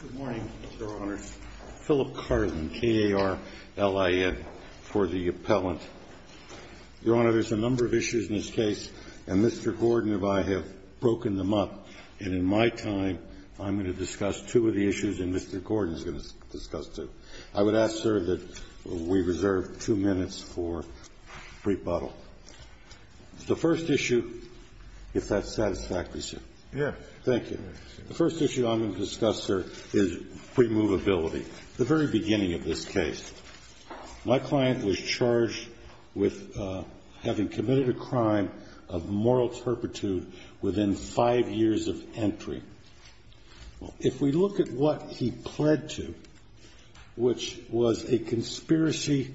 Good morning, Your Honors. Philip Carlin, KAR-LIN for the appellant. Your Honor, there's a number of issues in this case, and Mr. Gordon and I have broken them up, and in my time, I'm going to discuss two of the issues, and Mr. Gordon is going to discuss two. I would ask, sir, that we reserve two minutes for rebuttal. The first issue, if that satisfies you. Yes. Thank you. The first issue I'm going to discuss, sir, is premovability. The very beginning of this case, my client was charged with having committed a crime of moral turpitude within five years of entry. If we look at what he pled to, which was a conspiracy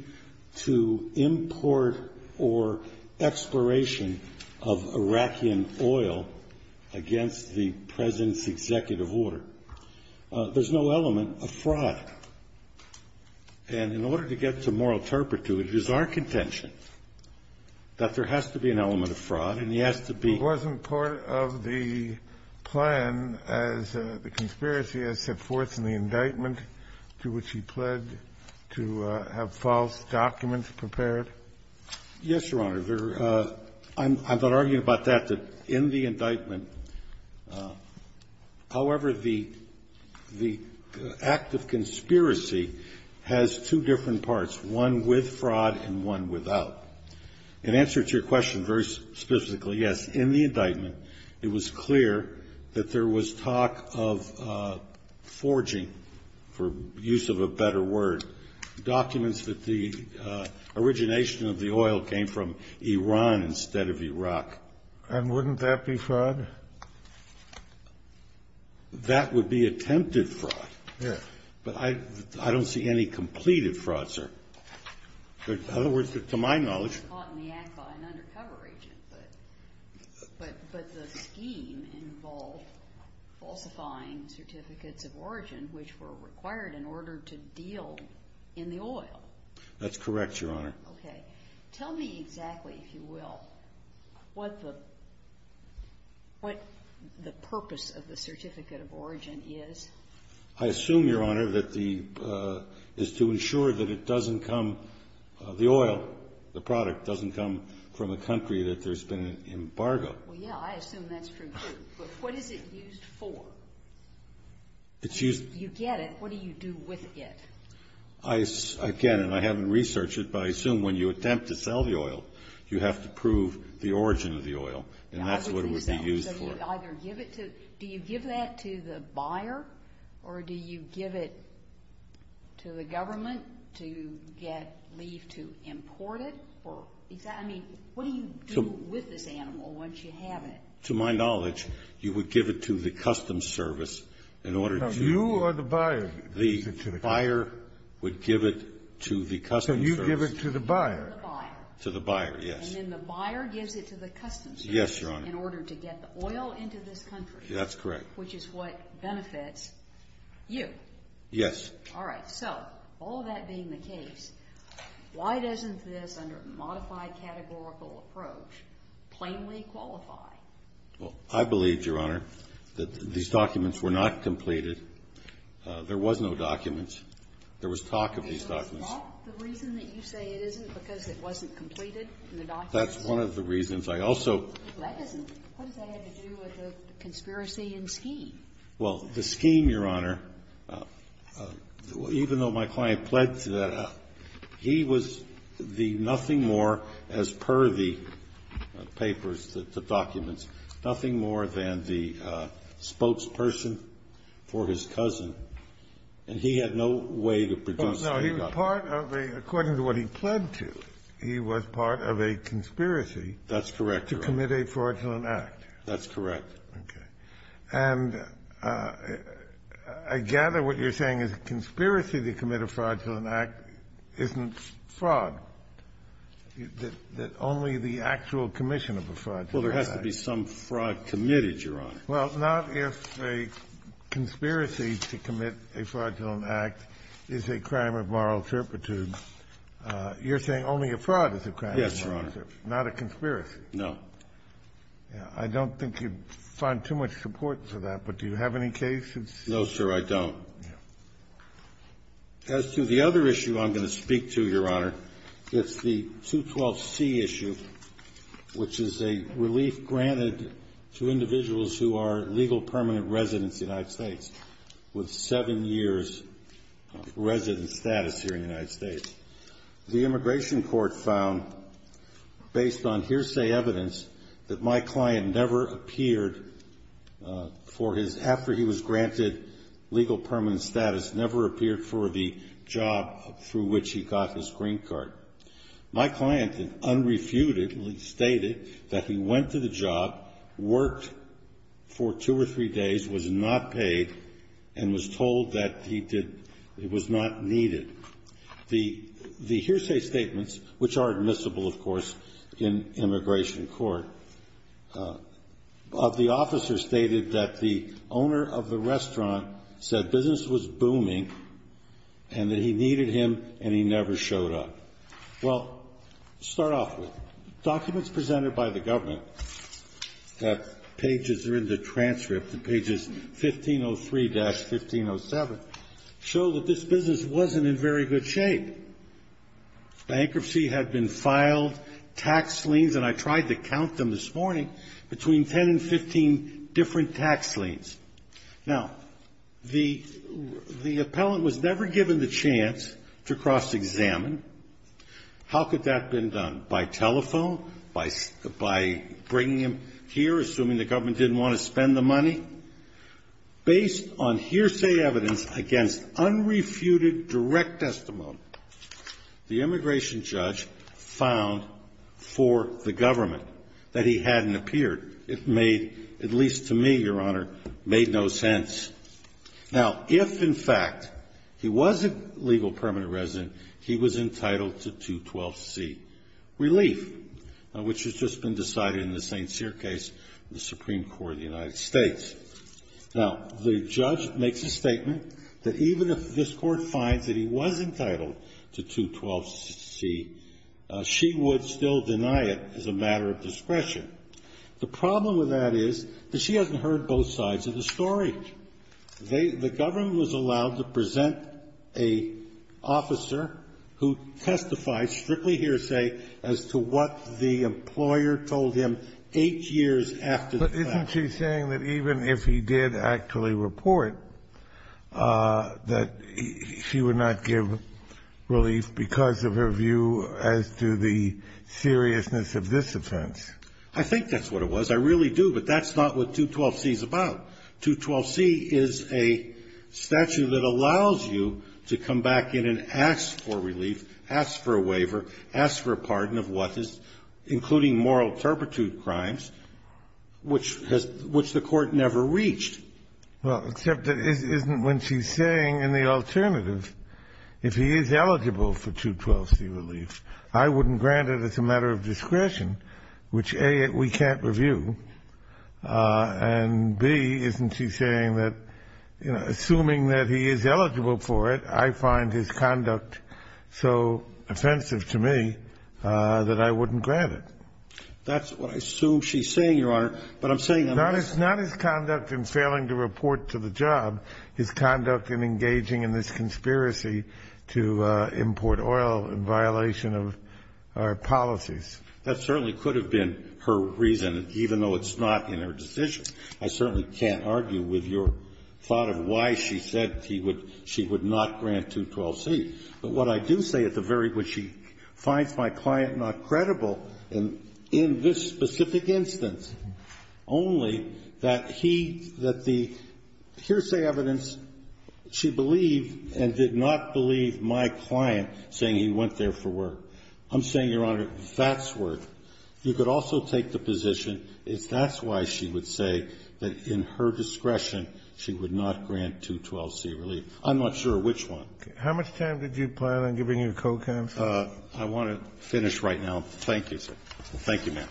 to import or exploration of Iraqi oil against the President's executive order, there's no element of fraud. And in order to get to moral turpitude, it is our contention that there has to be an element of fraud, and he has to be ---- It wasn't part of the plan as the conspiracy has set forth in the indictment to which he pled to have false documents prepared? Yes, Your Honor. I'm not arguing about that, that in the indictment, however, the act of conspiracy has two different parts, one with fraud and one without. In answer to your question very specifically, yes, in the indictment, it was clear that there was talk of forging, for use of a better word, documents that the origination of the oil came from Iran instead of Iraq. And wouldn't that be fraud? That would be attempted fraud. Yes. But I don't see any completed fraud, sir. In other words, to my knowledge ---- It was caught in the act by an undercover agent, but the scheme involved falsifying certificates of origin which were required in order to deal in the oil. That's correct, Your Honor. Okay. Tell me exactly, if you will, what the purpose of the certificate of origin is. I assume, Your Honor, that the ---- is to ensure that it doesn't come ---- the oil, the product doesn't come from a country that there's been an embargo. Well, yeah, I assume that's true, too. But what is it used for? It's used ---- You get it. What do you do with it? I ---- again, and I haven't researched it, but I assume when you attempt to sell the oil, you have to prove the origin of the oil. And that's what it would be used for. So you either give it to the ---- do you give that to the buyer, or do you give it to the government to get ---- leave to import it? Or is that ---- I mean, what do you do with this animal once you have it? To my knowledge, you would give it to the custom service in order to ---- No. You or the buyer? The buyer would give it to the custom service. So you give it to the buyer. To the buyer, yes. And then the buyer gives it to the custom service? Yes, Your Honor. In order to get the oil into this country? That's correct. Which is what benefits you? Yes. All right. So all that being the case, why doesn't this, under a modified categorical approach, plainly qualify? Well, I believe, Your Honor, that these documents were not completed. There was no documents. There was talk of these documents. Is that the reason that you say it isn't, because it wasn't completed in the documents? That's one of the reasons. I also ---- What does that have to do with the conspiracy and scheme? Well, the scheme, Your Honor, even though my client pledged that he was the nothing more, as per the papers, the documents, nothing more than the spokesperson for his cousin, and he had no way to produce the documents. No. He was part of a ---- according to what he pled to, he was part of a conspiracy. That's correct. To commit a fraudulent act. That's correct. Okay. And I gather what you're saying is a conspiracy to commit a fraudulent act isn't fraud, that only the actual commission of a fraudulent act. Well, there has to be some fraud committed, Your Honor. Well, not if a conspiracy to commit a fraudulent act is a crime of moral turpitude. You're saying only a fraud is a crime of moral turpitude. Yes, Your Honor. Not a conspiracy. No. I don't think you'd find too much support for that, but do you have any cases? No, sir, I don't. Yes. As to the other issue I'm going to speak to, Your Honor, it's the 212C issue, which is a relief granted to individuals who are legal permanent residents of the United States with seven years resident status here in the United States. The immigration court found, based on hearsay evidence, that my client never appeared for his, after he was granted legal permanent status, never appeared for the job through which he got his green card. My client unrefutedly stated that he went to the job, worked for two or three days, was not paid, and was told that he was not needed. The hearsay statements, which are admissible, of course, in immigration court, of the officer stated that the owner of the restaurant said business was booming and that he needed him and he never showed up. Well, to start off with, documents presented by the government, pages that are in the transcript, pages 1503-1507, show that this business wasn't in very good shape. Bankruptcy had been filed, tax liens, and I tried to count them this morning, between 10 and 15 different tax liens. Now, the appellant was never given the chance to cross-examine. How could that have been done? By telephone? By bringing him here, assuming the government didn't want to spend the money? Based on hearsay evidence against unrefuted direct testimony, the immigration judge found for the government that he hadn't appeared. It made, at least to me, Your Honor, made no sense. Now, if, in fact, he was a legal permanent resident, he was entitled to 212C relief, which has just been decided in the St. Cyr case in the Supreme Court of the United States. Now, the judge makes a statement that even if this court finds that he was entitled to 212C, she would still deny it as a matter of discretion. The problem with that is that she hasn't heard both sides of the story. The government was allowed to present an officer who testified strictly hearsay as to what the employer told him eight years after the fact. But isn't she saying that even if he did actually report, that she would not give relief because of her view as to the seriousness of this offense? I think that's what it was. I really do. But that's not what 212C is about. 212C is a statute that allows you to come back in and ask for relief, ask for a waiver, ask for a pardon of what is, including moral turpitude crimes, which the Court never reached. Well, except it isn't when she's saying in the alternative, if he is eligible for 212C relief, I wouldn't grant it as a matter of discretion, which, A, we can't review, and, B, isn't she saying that, you know, assuming that he is eligible for it, I find his conduct so offensive to me that I wouldn't grant it? That's what I assume she's saying, Your Honor. But I'm saying I'm not saying that. Not his conduct in failing to report to the job. His conduct in engaging in this conspiracy to import oil in violation of our policies. That certainly could have been her reason, even though it's not in her decision. I certainly can't argue with your thought of why she said she would not grant 212C. But what I do say at the very point, she finds my client not credible in this specific instance, only that he, that the hearsay evidence, she believed and did not believe my client saying he went there for work. I'm saying, Your Honor, that's where you could also take the position if that's why she would say that in her discretion she would not grant 212C relief. I'm not sure which one. Okay. How much time did you plan on giving your co-counsel? I want to finish right now. Thank you, sir. Thank you, ma'am.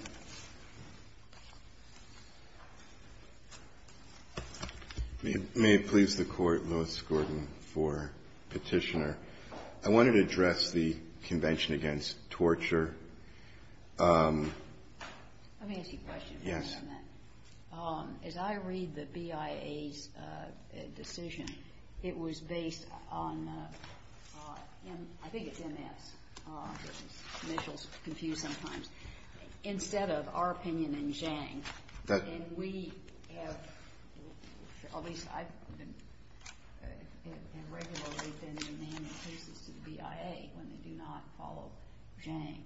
May it please the Court, Louis Gordon, for Petitioner. I wanted to address the Convention Against Torture. Let me ask you a question. Yes. As I read the BIA's decision, it was based on, I think it's MS. Mitchell's confused sometimes. Instead of our opinion in Zhang, and we have, at least I've been, and regularly have been demanding cases to the BIA when they do not follow Zhang.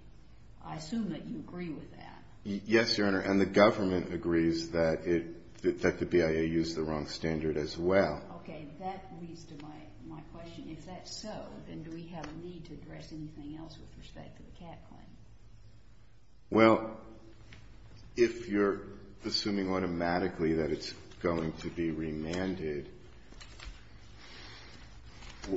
I assume that you agree with that. Yes, Your Honor, and the government agrees that the BIA used the wrong standard as well. Okay. That leads to my question. If that's so, then do we have a need to address anything else with respect to the Cat claim? Well, if you're assuming automatically that it's going to be remanded,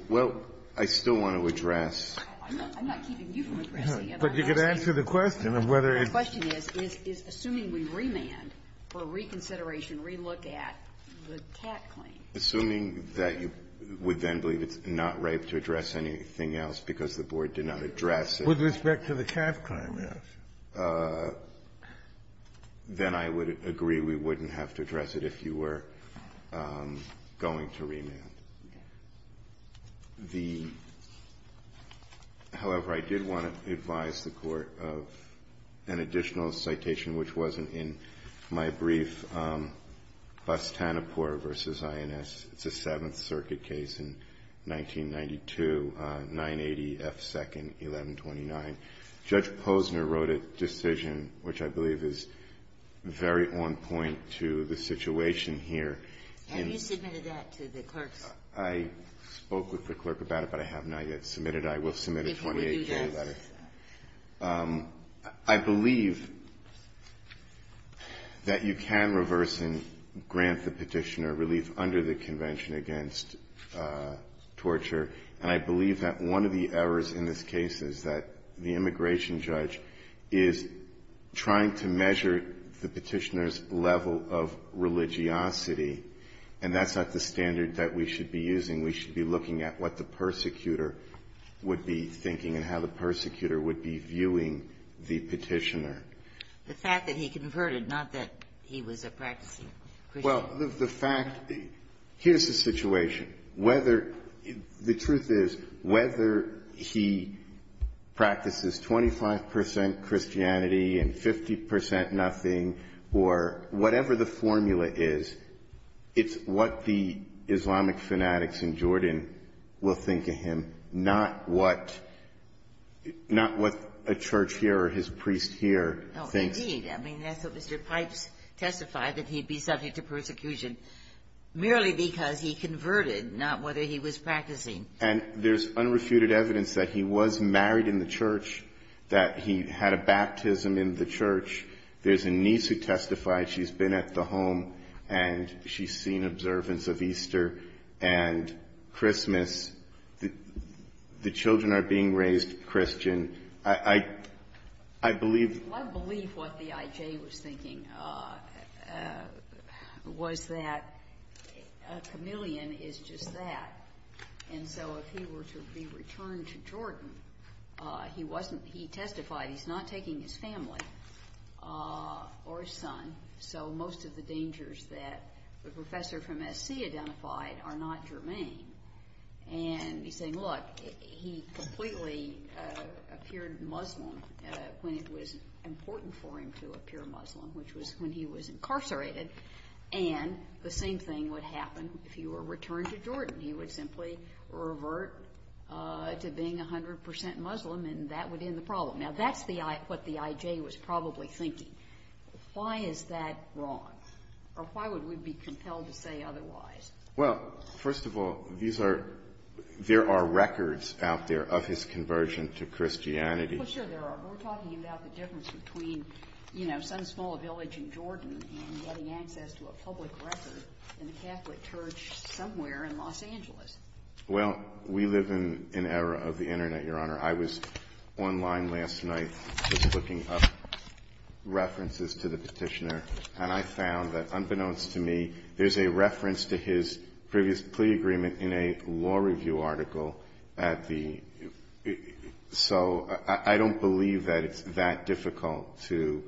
well, I still want to address. I'm not keeping you from addressing it. But you could answer the question of whether it's going to be remanded. My question is, is assuming we remand for reconsideration, relook at the Cat claim. Assuming that you would then believe it's not right to address anything else because the Board did not address it. With respect to the Cat claim, yes. Then I would agree we wouldn't have to address it if you were going to remand. The — however, I did want to advise the Court of an additional citation, which wasn't in my brief. It's a Seventh Circuit case in 1992, 980 F. 2nd, 1129. Judge Posner wrote a decision which I believe is very on point to the situation here. Have you submitted that to the clerks? I spoke with the clerk about it, but I have not yet submitted it. If we do that. I believe that you can reverse and grant the Petitioner relief under the Convention against Torture. And I believe that one of the errors in this case is that the immigration judge is trying to measure the Petitioner's level of religiosity. And that's not the standard that we should be using. We should be looking at what the persecutor would be thinking and how the persecutor would be viewing the Petitioner. The fact that he converted, not that he was a practicing Christian. Well, the fact — here's the situation. Whether — the truth is, whether he practices 25 percent Christianity and 50 percent whatever the formula is, it's what the Islamic fanatics in Jordan will think of him, not what — not what a church here or his priest here thinks. No, indeed. I mean, that's what Mr. Pipes testified, that he'd be subject to persecution merely because he converted, not whether he was practicing. And there's unrefuted evidence that he was married in the church, that he had a baptism in the church. There's a niece who testified. She's been at the home, and she's seen observance of Easter and Christmas. The children are being raised Christian. I believe — Well, I believe what the IJ was thinking was that a chameleon is just that. And so if he were to be returned to Jordan, he wasn't — he testified he's not taking his family or his son. So most of the dangers that the professor from SC identified are not germane. And he's saying, look, he completely appeared Muslim when it was important for him to appear Muslim, which was when he was incarcerated. And the same thing would happen if he were returned to Jordan. He would simply revert to being 100 percent Muslim, and that would end the problem. Now, that's what the IJ was probably thinking. Why is that wrong? Or why would we be compelled to say otherwise? Well, first of all, these are — there are records out there of his conversion to Christianity. Well, sure, there are. We're talking about the difference between, you know, some small village in Jordan and getting access to a public record in a Catholic church somewhere in Los Angeles. Well, we live in an era of the Internet, Your Honor. I was online last night just looking up references to the petitioner, and I found that, unbeknownst to me, there's a reference to his previous plea agreement in a law review article at the — so I don't believe that it's that difficult to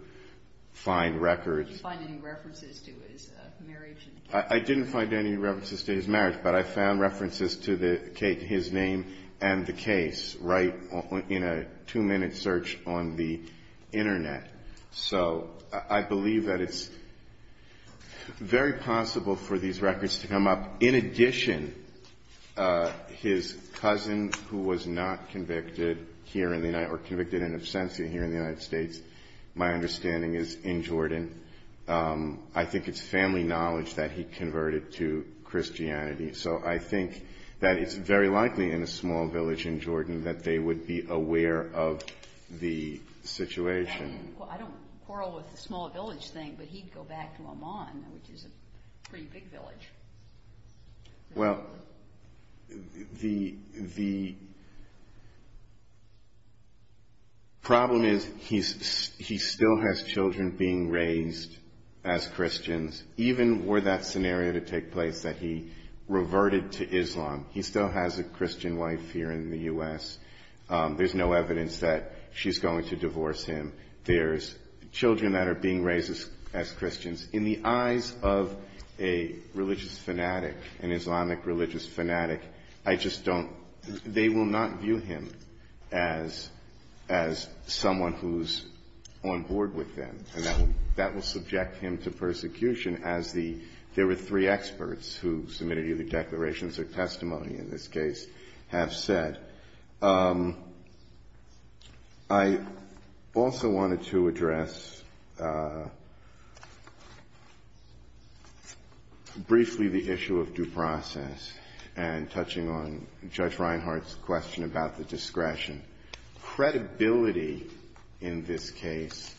find records. Did you find any references to his marriage? I didn't find any references to his marriage, but I found references to his name and the case right in a two-minute search on the Internet. So I believe that it's very possible for these records to come up. In addition, his cousin who was not convicted here in the United — or convicted in absentia here in the United States, my understanding is in Jordan, I think it's family knowledge that he converted to Christianity. So I think that it's very likely in a small village in Jordan that they would be aware of the situation. Well, I don't quarrel with the small village thing, but he'd go back to Oman, which is a pretty big village. Well, the problem is he still has children being raised as Christians. Even were that scenario to take place, that he reverted to Islam, he still has a Christian wife here in the U.S. There's no evidence that she's going to divorce him. There's children that are being raised as Christians. In the eyes of a religious fanatic, an Islamic religious fanatic, I just don't — they will not view him as someone who's on board with them. And that will subject him to persecution, as the — there were three experts who submitted either declarations or testimony in this case have said. I also wanted to address briefly the issue of due process and touching on Judge Reinhart's question about the discretion. Credibility in this case,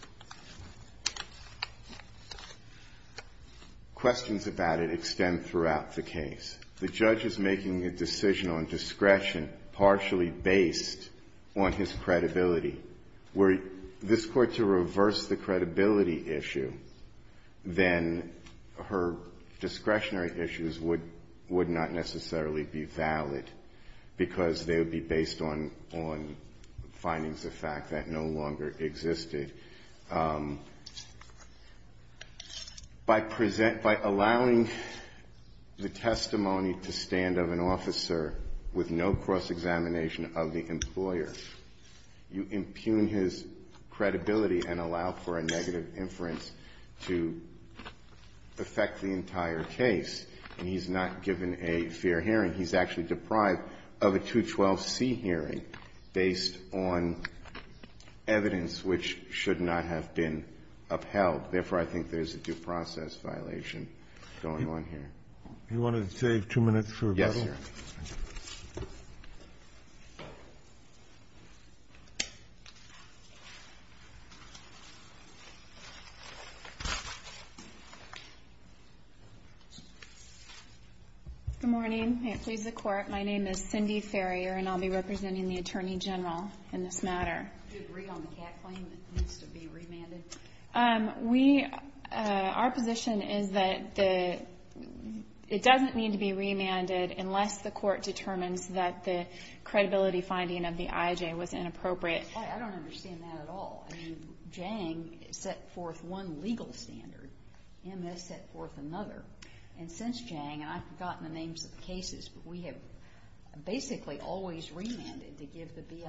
questions about it extend throughout the case. The judge is making a decision on discretion partially based on his credibility. Were this Court to reverse the credibility issue, then her discretionary issues would not necessarily be valid, because they would be based on findings of fact that no longer existed. By allowing the testimony to stand of an officer with no cross-examination of the employer, you impugn his credibility and allow for a negative inference to affect the entire case. And he's not given a fair hearing. He's actually deprived of a 212C hearing based on evidence which should not have been upheld. Therefore, I think there's a due process violation going on here. Roberts. Do you want to save two minutes for rebuttal? Yes, Your Honor. Thank you. Good morning. May it please the Court, my name is Cindy Farrier, and I'll be representing the Attorney General in this matter. Do you agree on the CAC claim that needs to be remanded? Our position is that it doesn't need to be remanded unless the Court determines that the credibility finding of the IJ was inappropriate. I don't understand that at all. I mean, Jang set forth one legal standard. MS set forth another. And since Jang, and I've forgotten the names of the cases, but we have basically always remanded to give the BIA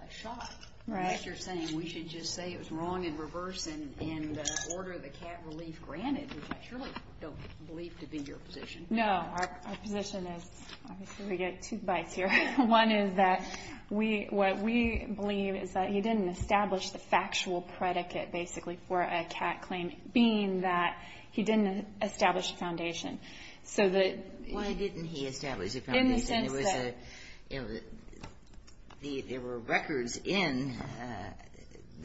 a shot. Right. I guess you're saying we should just say it was wrong in reverse and order the CAC relief granted, which I surely don't believe to be your position. No, our position is, obviously we get two bites here. One is that what we believe is that he didn't establish the factual predicate, basically, for a CAC claim, being that he didn't establish a foundation. There were records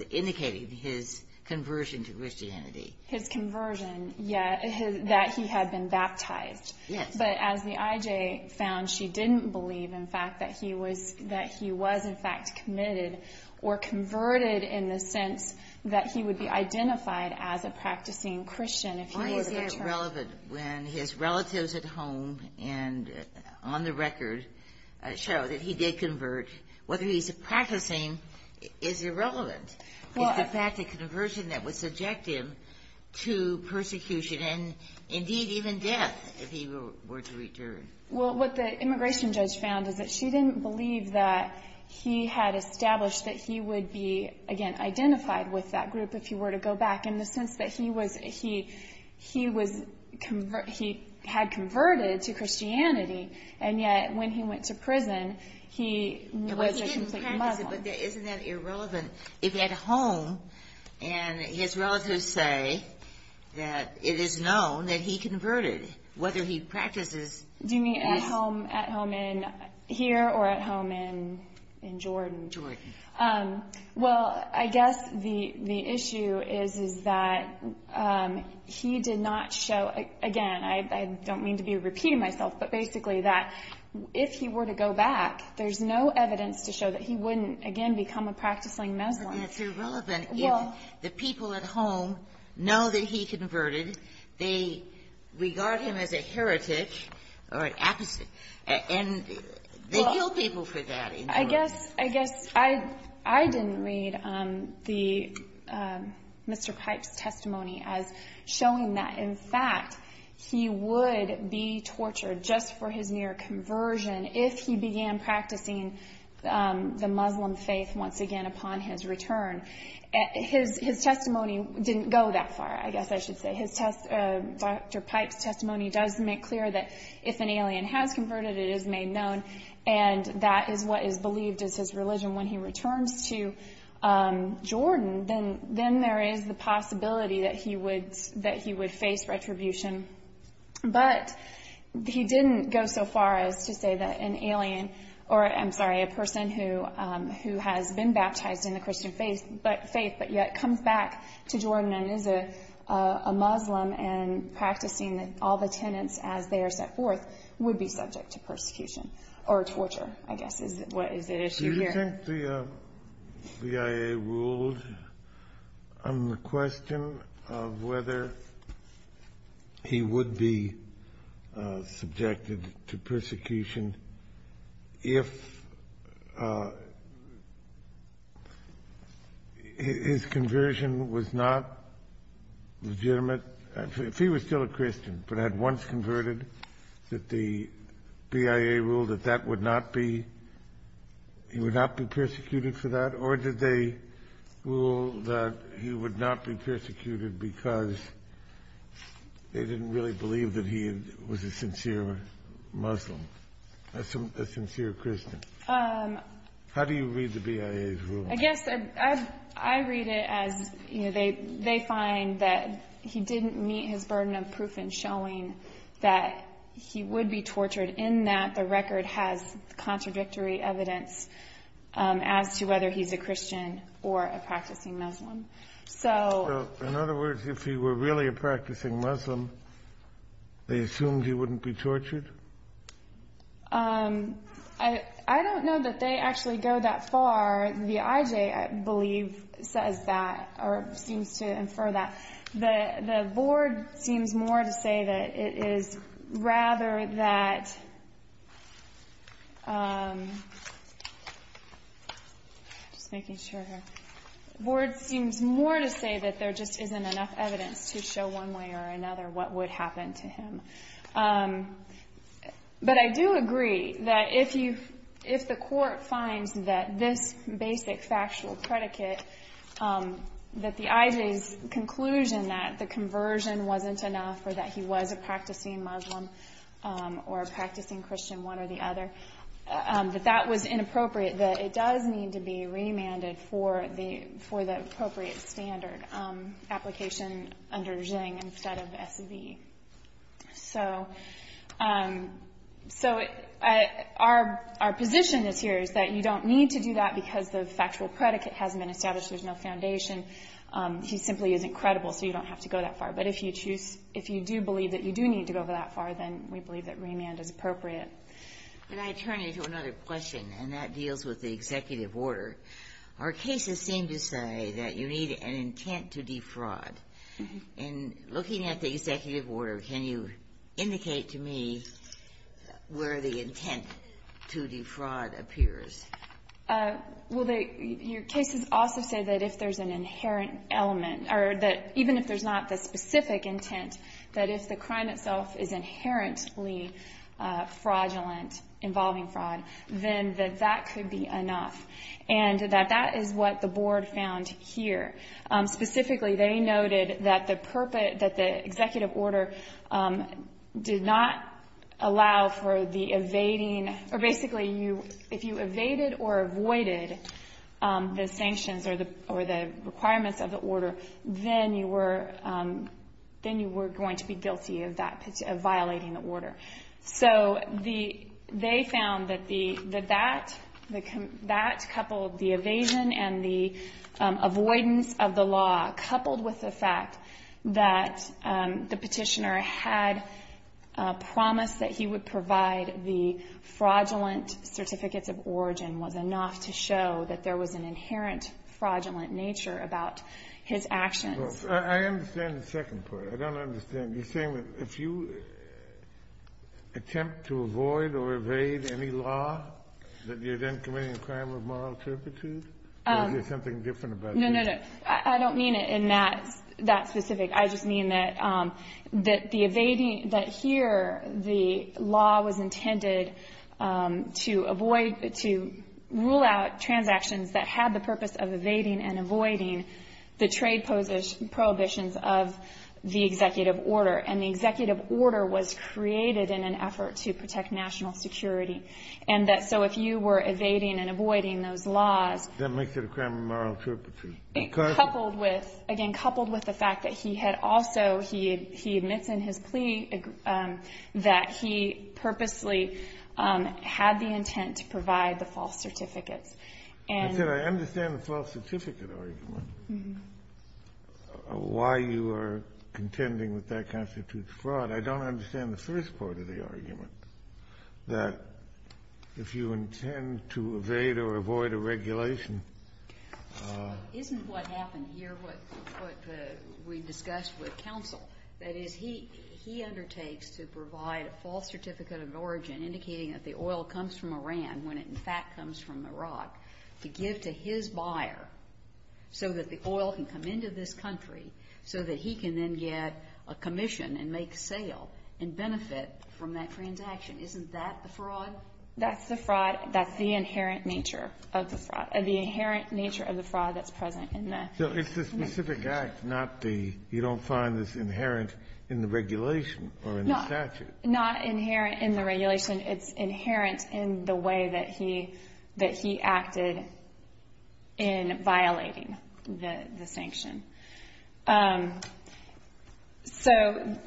indicating his conversion to Christianity. His conversion, yes, that he had been baptized. Yes. But as the IJ found, she didn't believe, in fact, that he was in fact committed or converted in the sense that he would be identified as a practicing Christian. Why is that relevant when his relatives at home and on the record show that he did convert? Whether he's a practicing is irrelevant. It's the fact that conversion that would subject him to persecution and, indeed, even death if he were to return. Well, what the immigration judge found is that she didn't believe that he had established that he would be, again, he had converted to Christianity, and yet when he went to prison, he was a complete Muslim. He didn't practice it, but isn't that irrelevant? If at home, and his relatives say that it is known that he converted, whether he practices... Do you mean at home in here or at home in Jordan? Jordan. Well, I guess the issue is that he did not show, again, I don't mean to be repeating myself, but basically that if he were to go back, there's no evidence to show that he wouldn't, again, become a practicing Muslim. It's irrelevant if the people at home know that he converted. They regard him as a heretic or an apostate, and they kill people for that in Jordan. I guess I didn't read Mr. Pipe's testimony as showing that, in fact, he would be tortured just for his near conversion if he began practicing the Muslim faith once again upon his return. His testimony didn't go that far, I guess I should say. Dr. Pipe's testimony does make clear that if an alien has converted, it is made known, and that is what is believed as his religion when he returns to Jordan, then there is the possibility that he would face retribution. But he didn't go so far as to say that an alien, or I'm sorry, a person who has been baptized in the Christian faith but yet comes back to Jordan and is a Muslim and practicing all the tenets as they are set forth, would be subject to persecution or torture, I guess is the issue here. Do you think the BIA ruled on the question of whether he would be subjected to persecution if his conversion was not legitimate? If he was still a Christian but had once converted, that the BIA ruled that that would not be, he would not be persecuted for that? Or did they rule that he would not be persecuted because they didn't really believe that he was a sincere Muslim, a sincere Christian? How do you read the BIA's ruling? I guess I read it as they find that he didn't meet his burden of proof in showing that he would be tortured, in that the record has contradictory evidence as to whether he's a Christian or a practicing Muslim. So in other words, if he were really a practicing Muslim, they assumed he wouldn't be tortured? I don't know that they actually go that far. The IJ, I believe, says that or seems to infer that. The board seems more to say that there just isn't enough evidence to show one way or another what would happen to him. But I do agree that if the court finds that this basic factual predicate, that the IJ's conclusion that the conversion wasn't enough or that he was a practicing Muslim or a practicing Christian, one or the other, that that was inappropriate, that it does need to be remanded for the appropriate standard application under ZHING instead of SEB. So our position this year is that you don't need to do that because the factual predicate hasn't been established. There's no foundation. He simply isn't credible, so you don't have to go that far. But if you do believe that you do need to go that far, then we believe that remand is appropriate. Can I turn you to another question? And that deals with the executive order. Our cases seem to say that you need an intent to defraud. In looking at the executive order, can you indicate to me where the intent to defraud appears? Well, your cases also say that if there's an inherent element or that even if there's not the specific intent, that if the crime itself is inherently fraudulent, involving fraud, then that that could be enough. And that that is what the board found here. Specifically, they noted that the executive order did not allow for the evading or basically if you evaded or avoided the sanctions or the requirements of the order, then you were going to be guilty of violating the order. So they found that that coupled the evasion and the avoidance of the law, coupled with the fact that the Petitioner had promised that he would provide the fraudulent certificates of origin, was enough to show that there was an inherent fraudulent nature about his actions. I understand the second part. I don't understand. You're saying that if you attempt to avoid or evade any law, that you're then committing a crime of moral turpitude? Or is there something different about that? No, no, no. I don't mean it in that specific. I just mean that the evading, that here the law was intended to avoid, to rule out transactions that had the purpose of evading and avoiding the trade prohibitions of the executive order, and the executive order was created in an effort to protect national security, and that so if you were evading and avoiding those laws. That makes it a crime of moral turpitude. Coupled with, again, coupled with the fact that he had also, he admits in his plea, that he purposely had the intent to provide the false certificates. I said I understand the false certificate argument. Why you are contending with that constitutes fraud. I don't understand the first part of the argument, that if you intend to evade or avoid a regulation. Isn't what happened here what we discussed with counsel. That is, he undertakes to provide a false certificate of origin, indicating that the oil comes from Iran, when it in fact comes from Iraq, to give to his buyer, so that the oil can come into this country, so that he can then get a commission and make sale and benefit from that transaction. Isn't that the fraud? That's the fraud. That's the inherent nature of the fraud, the inherent nature of the fraud that's present in the statute. So it's the specific act, not the, you don't find this inherent in the regulation or in the statute. Not inherent in the regulation. It's inherent in the way that he acted in violating the sanction. So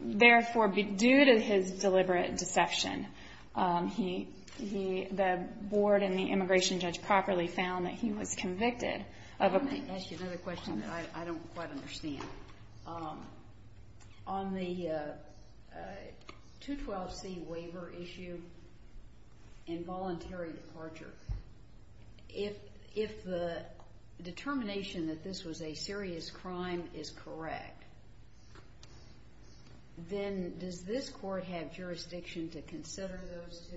therefore, due to his deliberate deception, the board and the immigration judge properly found that he was convicted of a... Let me ask you another question that I don't quite understand. On the 212C waiver issue and voluntary departure, if the determination that this was a serious crime is correct, then does this court have jurisdiction to consider those two?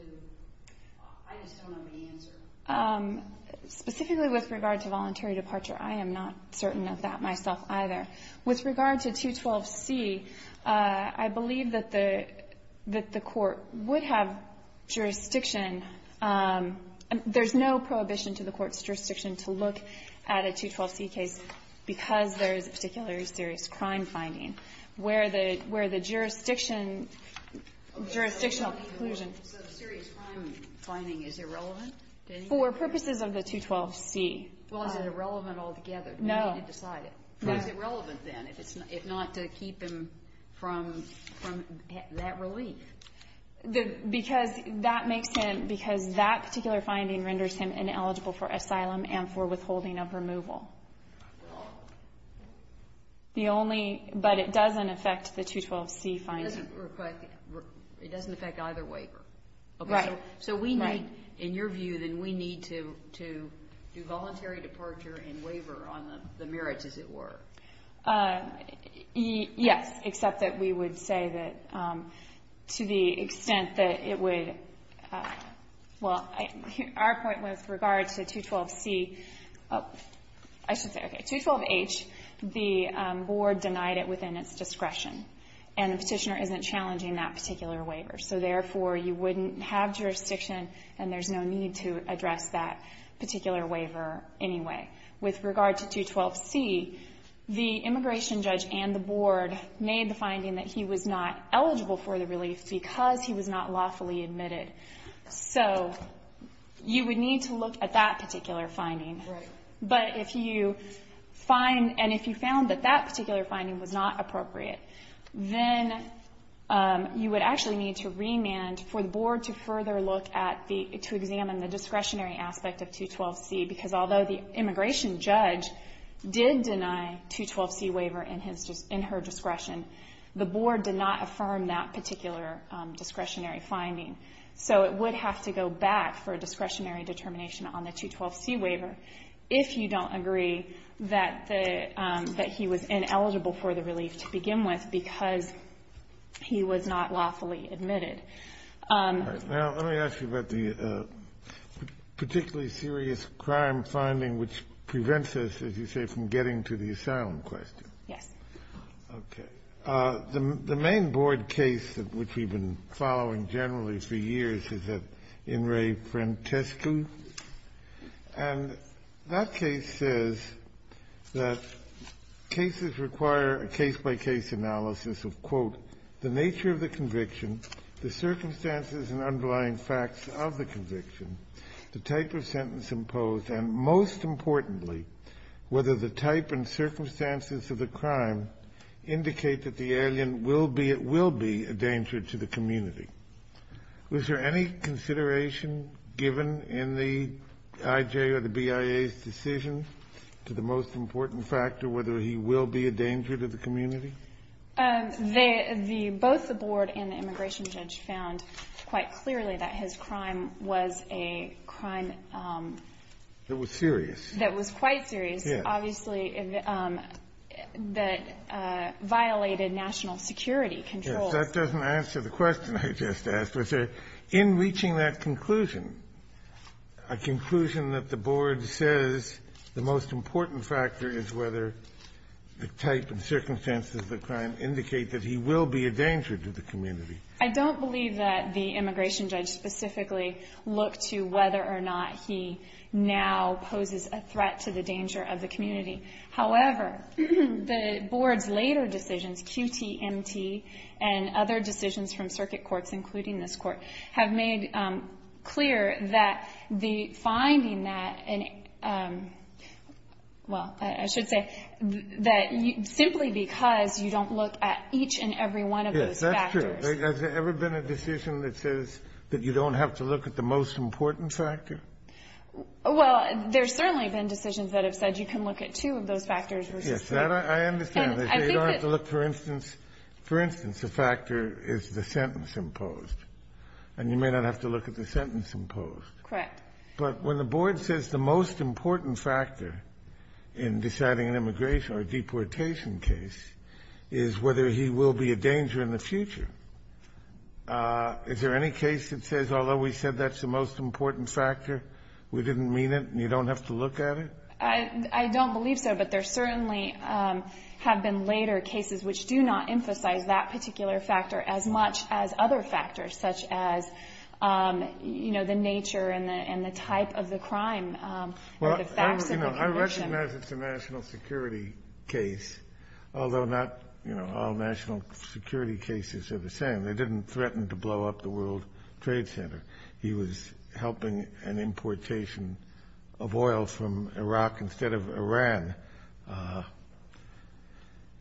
I just don't know the answer. Specifically with regard to voluntary departure, I am not certain of that myself either. With regard to 212C, I believe that the court would have jurisdiction. There's no prohibition to the court's jurisdiction to look at a 212C case because there is a particularly serious crime finding where the jurisdiction, jurisdictional conclusion. So the serious crime finding is irrelevant? For purposes of the 212C. Well, is it irrelevant altogether? No. Is it relevant, then, if not to keep him from that relief? Because that makes him, because that particular finding renders him ineligible for asylum and for withholding of removal. The only, but it doesn't affect the 212C finding. It doesn't affect either waiver. Right. So we need, in your view, then we need to do voluntary departure and waiver on the merits, as it were. Yes, except that we would say that to the extent that it would, well, our point with regard to 212C, I should say, okay, 212H, the board denied it within its discretion, and the Petitioner isn't challenging that particular waiver. So, therefore, you wouldn't have jurisdiction, and there's no need to address that particular waiver anyway. With regard to 212C, the immigration judge and the board made the finding that he was not eligible for the relief because he was not lawfully admitted. So you would need to look at that particular finding. Right. But if you find, and if you found that that particular finding was not appropriate, then you would actually need to remand for the board to further look at the, to examine the discretionary aspect of 212C, because although the immigration judge did deny 212C waiver in his, in her discretion, the board did not affirm that particular discretionary finding. So it would have to go back for a discretionary determination on the 212C waiver if you don't agree that the, that he was ineligible for the relief to begin with because he was not lawfully admitted. Now, let me ask you about the particularly serious crime finding which prevents us, as you say, from getting to the asylum question. Yes. Okay. The main board case which we've been following generally for years is that In re frantescu, and that case says that cases require a case-by-case analysis of, quote, the nature of the conviction, the circumstances and underlying facts of the conviction, the type of sentence imposed, and most importantly, whether the type and circumstances of the crime indicate that the alien will be, it will be a danger to the community. Was there any consideration given in the IJ or the BIA's decision to the most important factor whether he will be a danger to the community? They, the, both the board and the immigration judge found quite clearly that his crime was a crime that was serious. That was quite serious, obviously, that violated national security controls. Yes. That doesn't answer the question I just asked. Was there, in reaching that conclusion, a conclusion that the board says the most that he will be a danger to the community? I don't believe that the immigration judge specifically looked to whether or not he now poses a threat to the danger of the community. However, the board's later decisions, QTMT, and other decisions from circuit courts, including this Court, have made clear that the finding that an, well, I should say that simply because you don't look at each and every one of those factors. Yes, that's true. Has there ever been a decision that says that you don't have to look at the most important factor? Well, there's certainly been decisions that have said you can look at two of those factors versus three. Yes, that I understand. I think that you don't have to look, for instance, for instance, the factor is the sentence imposed, and you may not have to look at the sentence imposed. Correct. But when the board says the most important factor in deciding an immigration or deportation case is whether he will be a danger in the future, is there any case that says, although we said that's the most important factor, we didn't mean it, and you don't have to look at it? I don't believe so, but there certainly have been later cases which do not emphasize that particular factor as much as other factors, such as, you know, the nature and the type of the crime or the facts of the commission. Well, you know, I recognize it's a national security case, although not, you know, all national security cases are the same. They didn't threaten to blow up the World Trade Center. He was helping an importation of oil from Iraq instead of Iran,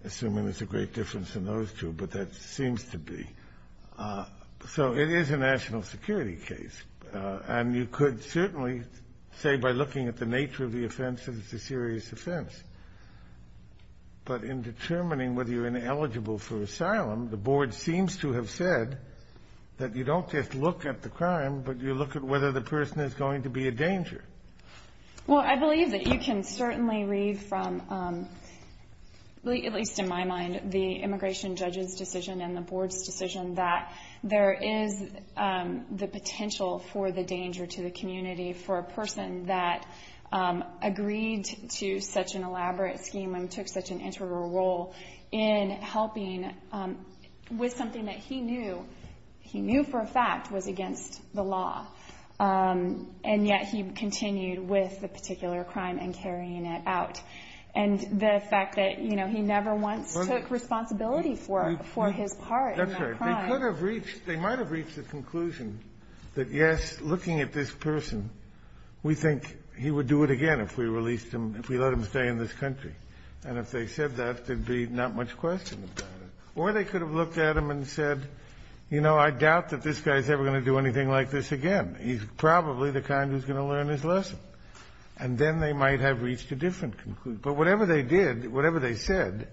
assuming there's a great difference in those two, but that seems to be. So it is a national security case, and you could certainly say by looking at the nature of the offense that it's a serious offense. But in determining whether you're ineligible for asylum, the board seems to have said that you don't just look at the crime, but you look at whether the person is going to be a danger. Well, I believe that you can certainly read from, at least in my mind, the immigration judge's decision and the board's decision that there is the potential for the danger to the community for a person that agreed to such an elaborate scheme and took such an integral role in helping with something that he knew, he knew for a fact was against the law, and yet he continued with the particular crime and carrying it out. And the fact that, you know, he never once took responsibility for it, for his part in that crime. That's right. They could have reached the conclusion that, yes, looking at this person, we think he would do it again if we released him, if we let him stay in this country. And if they said that, there'd be not much question about it. Or they could have looked at him and said, you know, I doubt that this guy's ever going to do anything like this again. He's probably the kind who's going to learn his lesson. And then they might have reached a different conclusion. But whatever they did, whatever they said,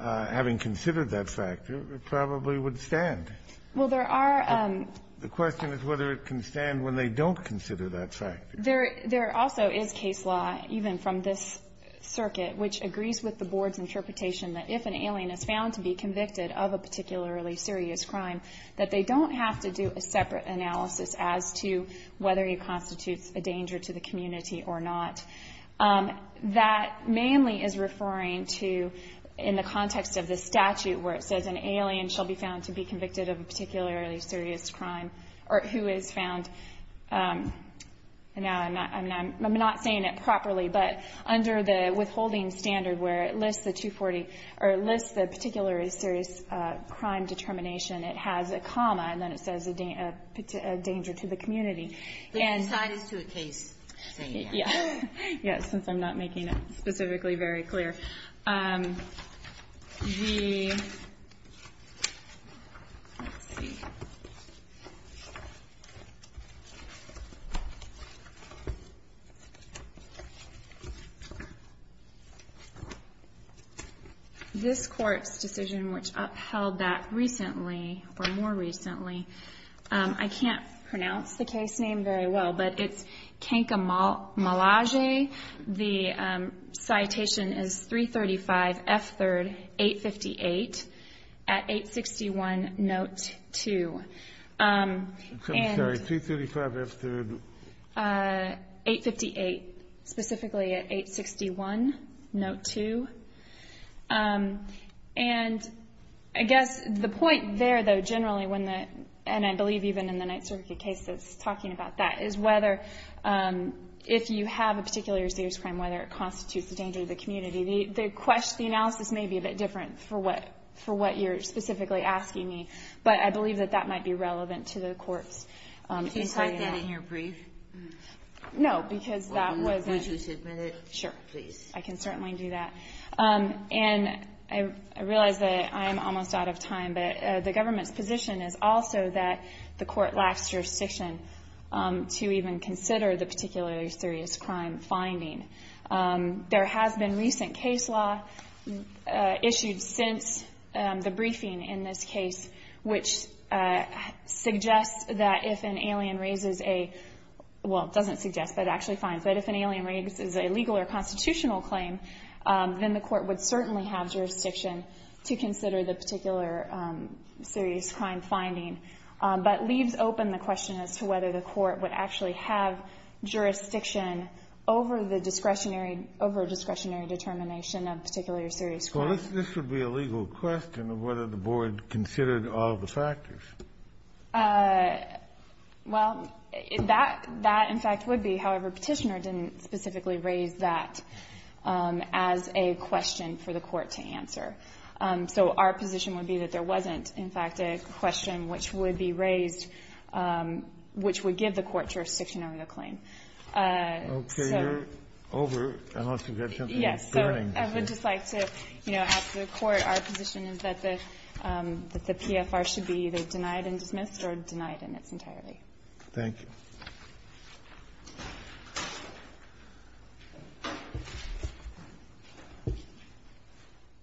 having considered that factor, probably would stand. Well, there are the question is whether it can stand when they don't consider that factor. There also is case law, even from this circuit, which agrees with the board's interpretation that if an alien is found to be convicted of a particularly serious crime, that they don't have to do a separate analysis as to whether he constitutes a danger to the community or not. That mainly is referring to, in the context of the statute, where it says an alien shall be found to be convicted of a particularly serious crime, or who is found, now I'm not saying it properly, but under the withholding standard where it lists the 240, or it lists the particularly serious crime determination, it has a comma, and then it says a danger to the community. And. It's a side to a case. Yeah. Yeah, since I'm not making it specifically very clear. The, let's see. This court's decision, which upheld that recently, or more recently, I can't pronounce the case name very well, but it's Kankamalaje. The citation is 335 F3rd 858 at 861 note 2. I'm sorry, 335 F3rd. 858 specifically at 861 note 2. And I guess the point there, though, generally, when the, and I believe even in the Ninth Circuit case that's talking about that, is whether if you have a particular serious crime, whether it constitutes a danger to the community, the analysis may be a bit different for what you're specifically asking me. But I believe that that might be relevant to the courts. Can you cite that in your brief? No, because that was. Would you submit it? Sure. Please. I can certainly do that. And I realize that I'm almost out of time, but the government's position is also that the court lacks jurisdiction to even consider the particularly serious crime finding. There has been recent case law issued since the briefing in this case, which suggests that if an alien raises a, well, it doesn't suggest, but it actually raises a jurisdictional claim, then the court would certainly have jurisdiction to consider the particular serious crime finding. But leaves open the question as to whether the court would actually have jurisdiction over the discretionary, over-discretionary determination of a particular serious crime. Well, this would be a legal question of whether the board considered all the factors. Well, that, in fact, would be. However, Petitioner didn't specifically raise that as a question for the court to answer. So our position would be that there wasn't, in fact, a question which would be raised which would give the court jurisdiction over the claim. Okay. You're over, unless you have something else burning. Yes. So I would just like to, you know, ask the Court our position is that the PFR should be either denied and dismissed or denied in its entirety. Thank you.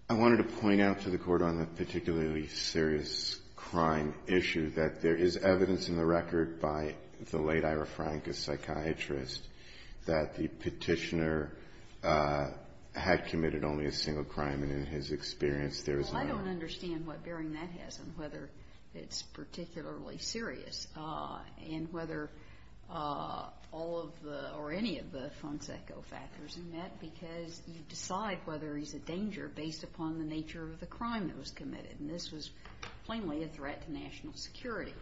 I wanted to point out to the Court on the particularly serious crime issue that there is evidence in the record by the late Ira Frank, a psychiatrist, that the Petitioner had committed only a single crime, and in his experience there is not. Well, I don't understand what bearing that has on whether it's particularly serious and whether all of the, or any of the Fonseca factors are met because you decide whether he's a danger based upon the nature of the crime that was committed. And this was plainly a threat to national security.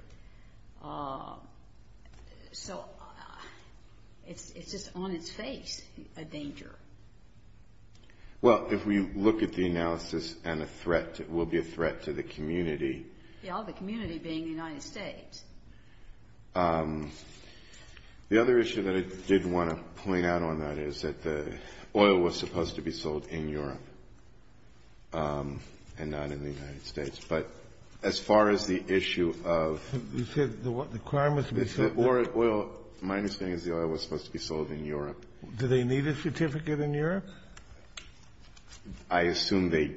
So it's just on its face a danger. Well, if we look at the analysis and a threat, it will be a threat to the community. Yes, the community being the United States. The other issue that I did want to point out on that is that the oil was supposed to be sold in Europe and not in the United States. But as far as the issue of the crime was to be sold. Well, my understanding is the oil was supposed to be sold in Europe. Do they need a certificate in Europe? I assume they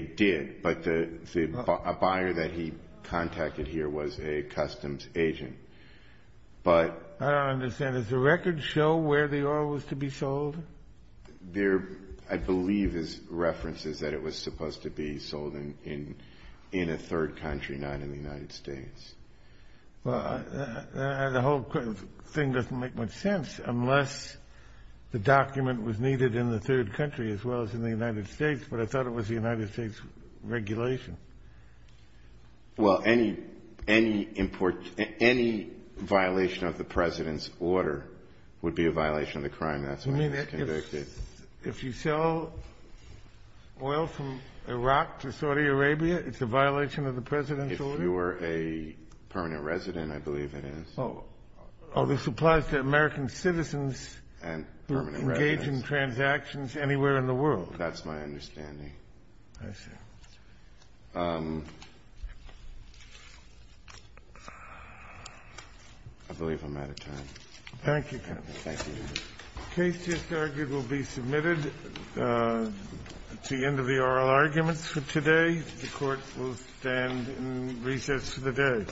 did, but a buyer that he contacted here was a customs agent. But. I don't understand. Does the record show where the oil was to be sold? There, I believe, is references that it was supposed to be sold in a third country, not in the United States. Well, the whole thing doesn't make much sense unless the document was needed in the third country as well as in the United States. But I thought it was the United States regulation. Well, any violation of the President's order would be a violation of the crime. That's why it was convicted. You mean if you sell oil from Iraq to Saudi Arabia, it's a violation of the President's order? If you were a permanent resident, I believe it is. Oh, this applies to American citizens who engage in transactions anywhere in the world. That's my understanding. I see. I believe I'm out of time. Thank you, counsel. Thank you. The case just argued will be submitted. It's the end of the oral arguments for today. The Court will stand in recess for the day.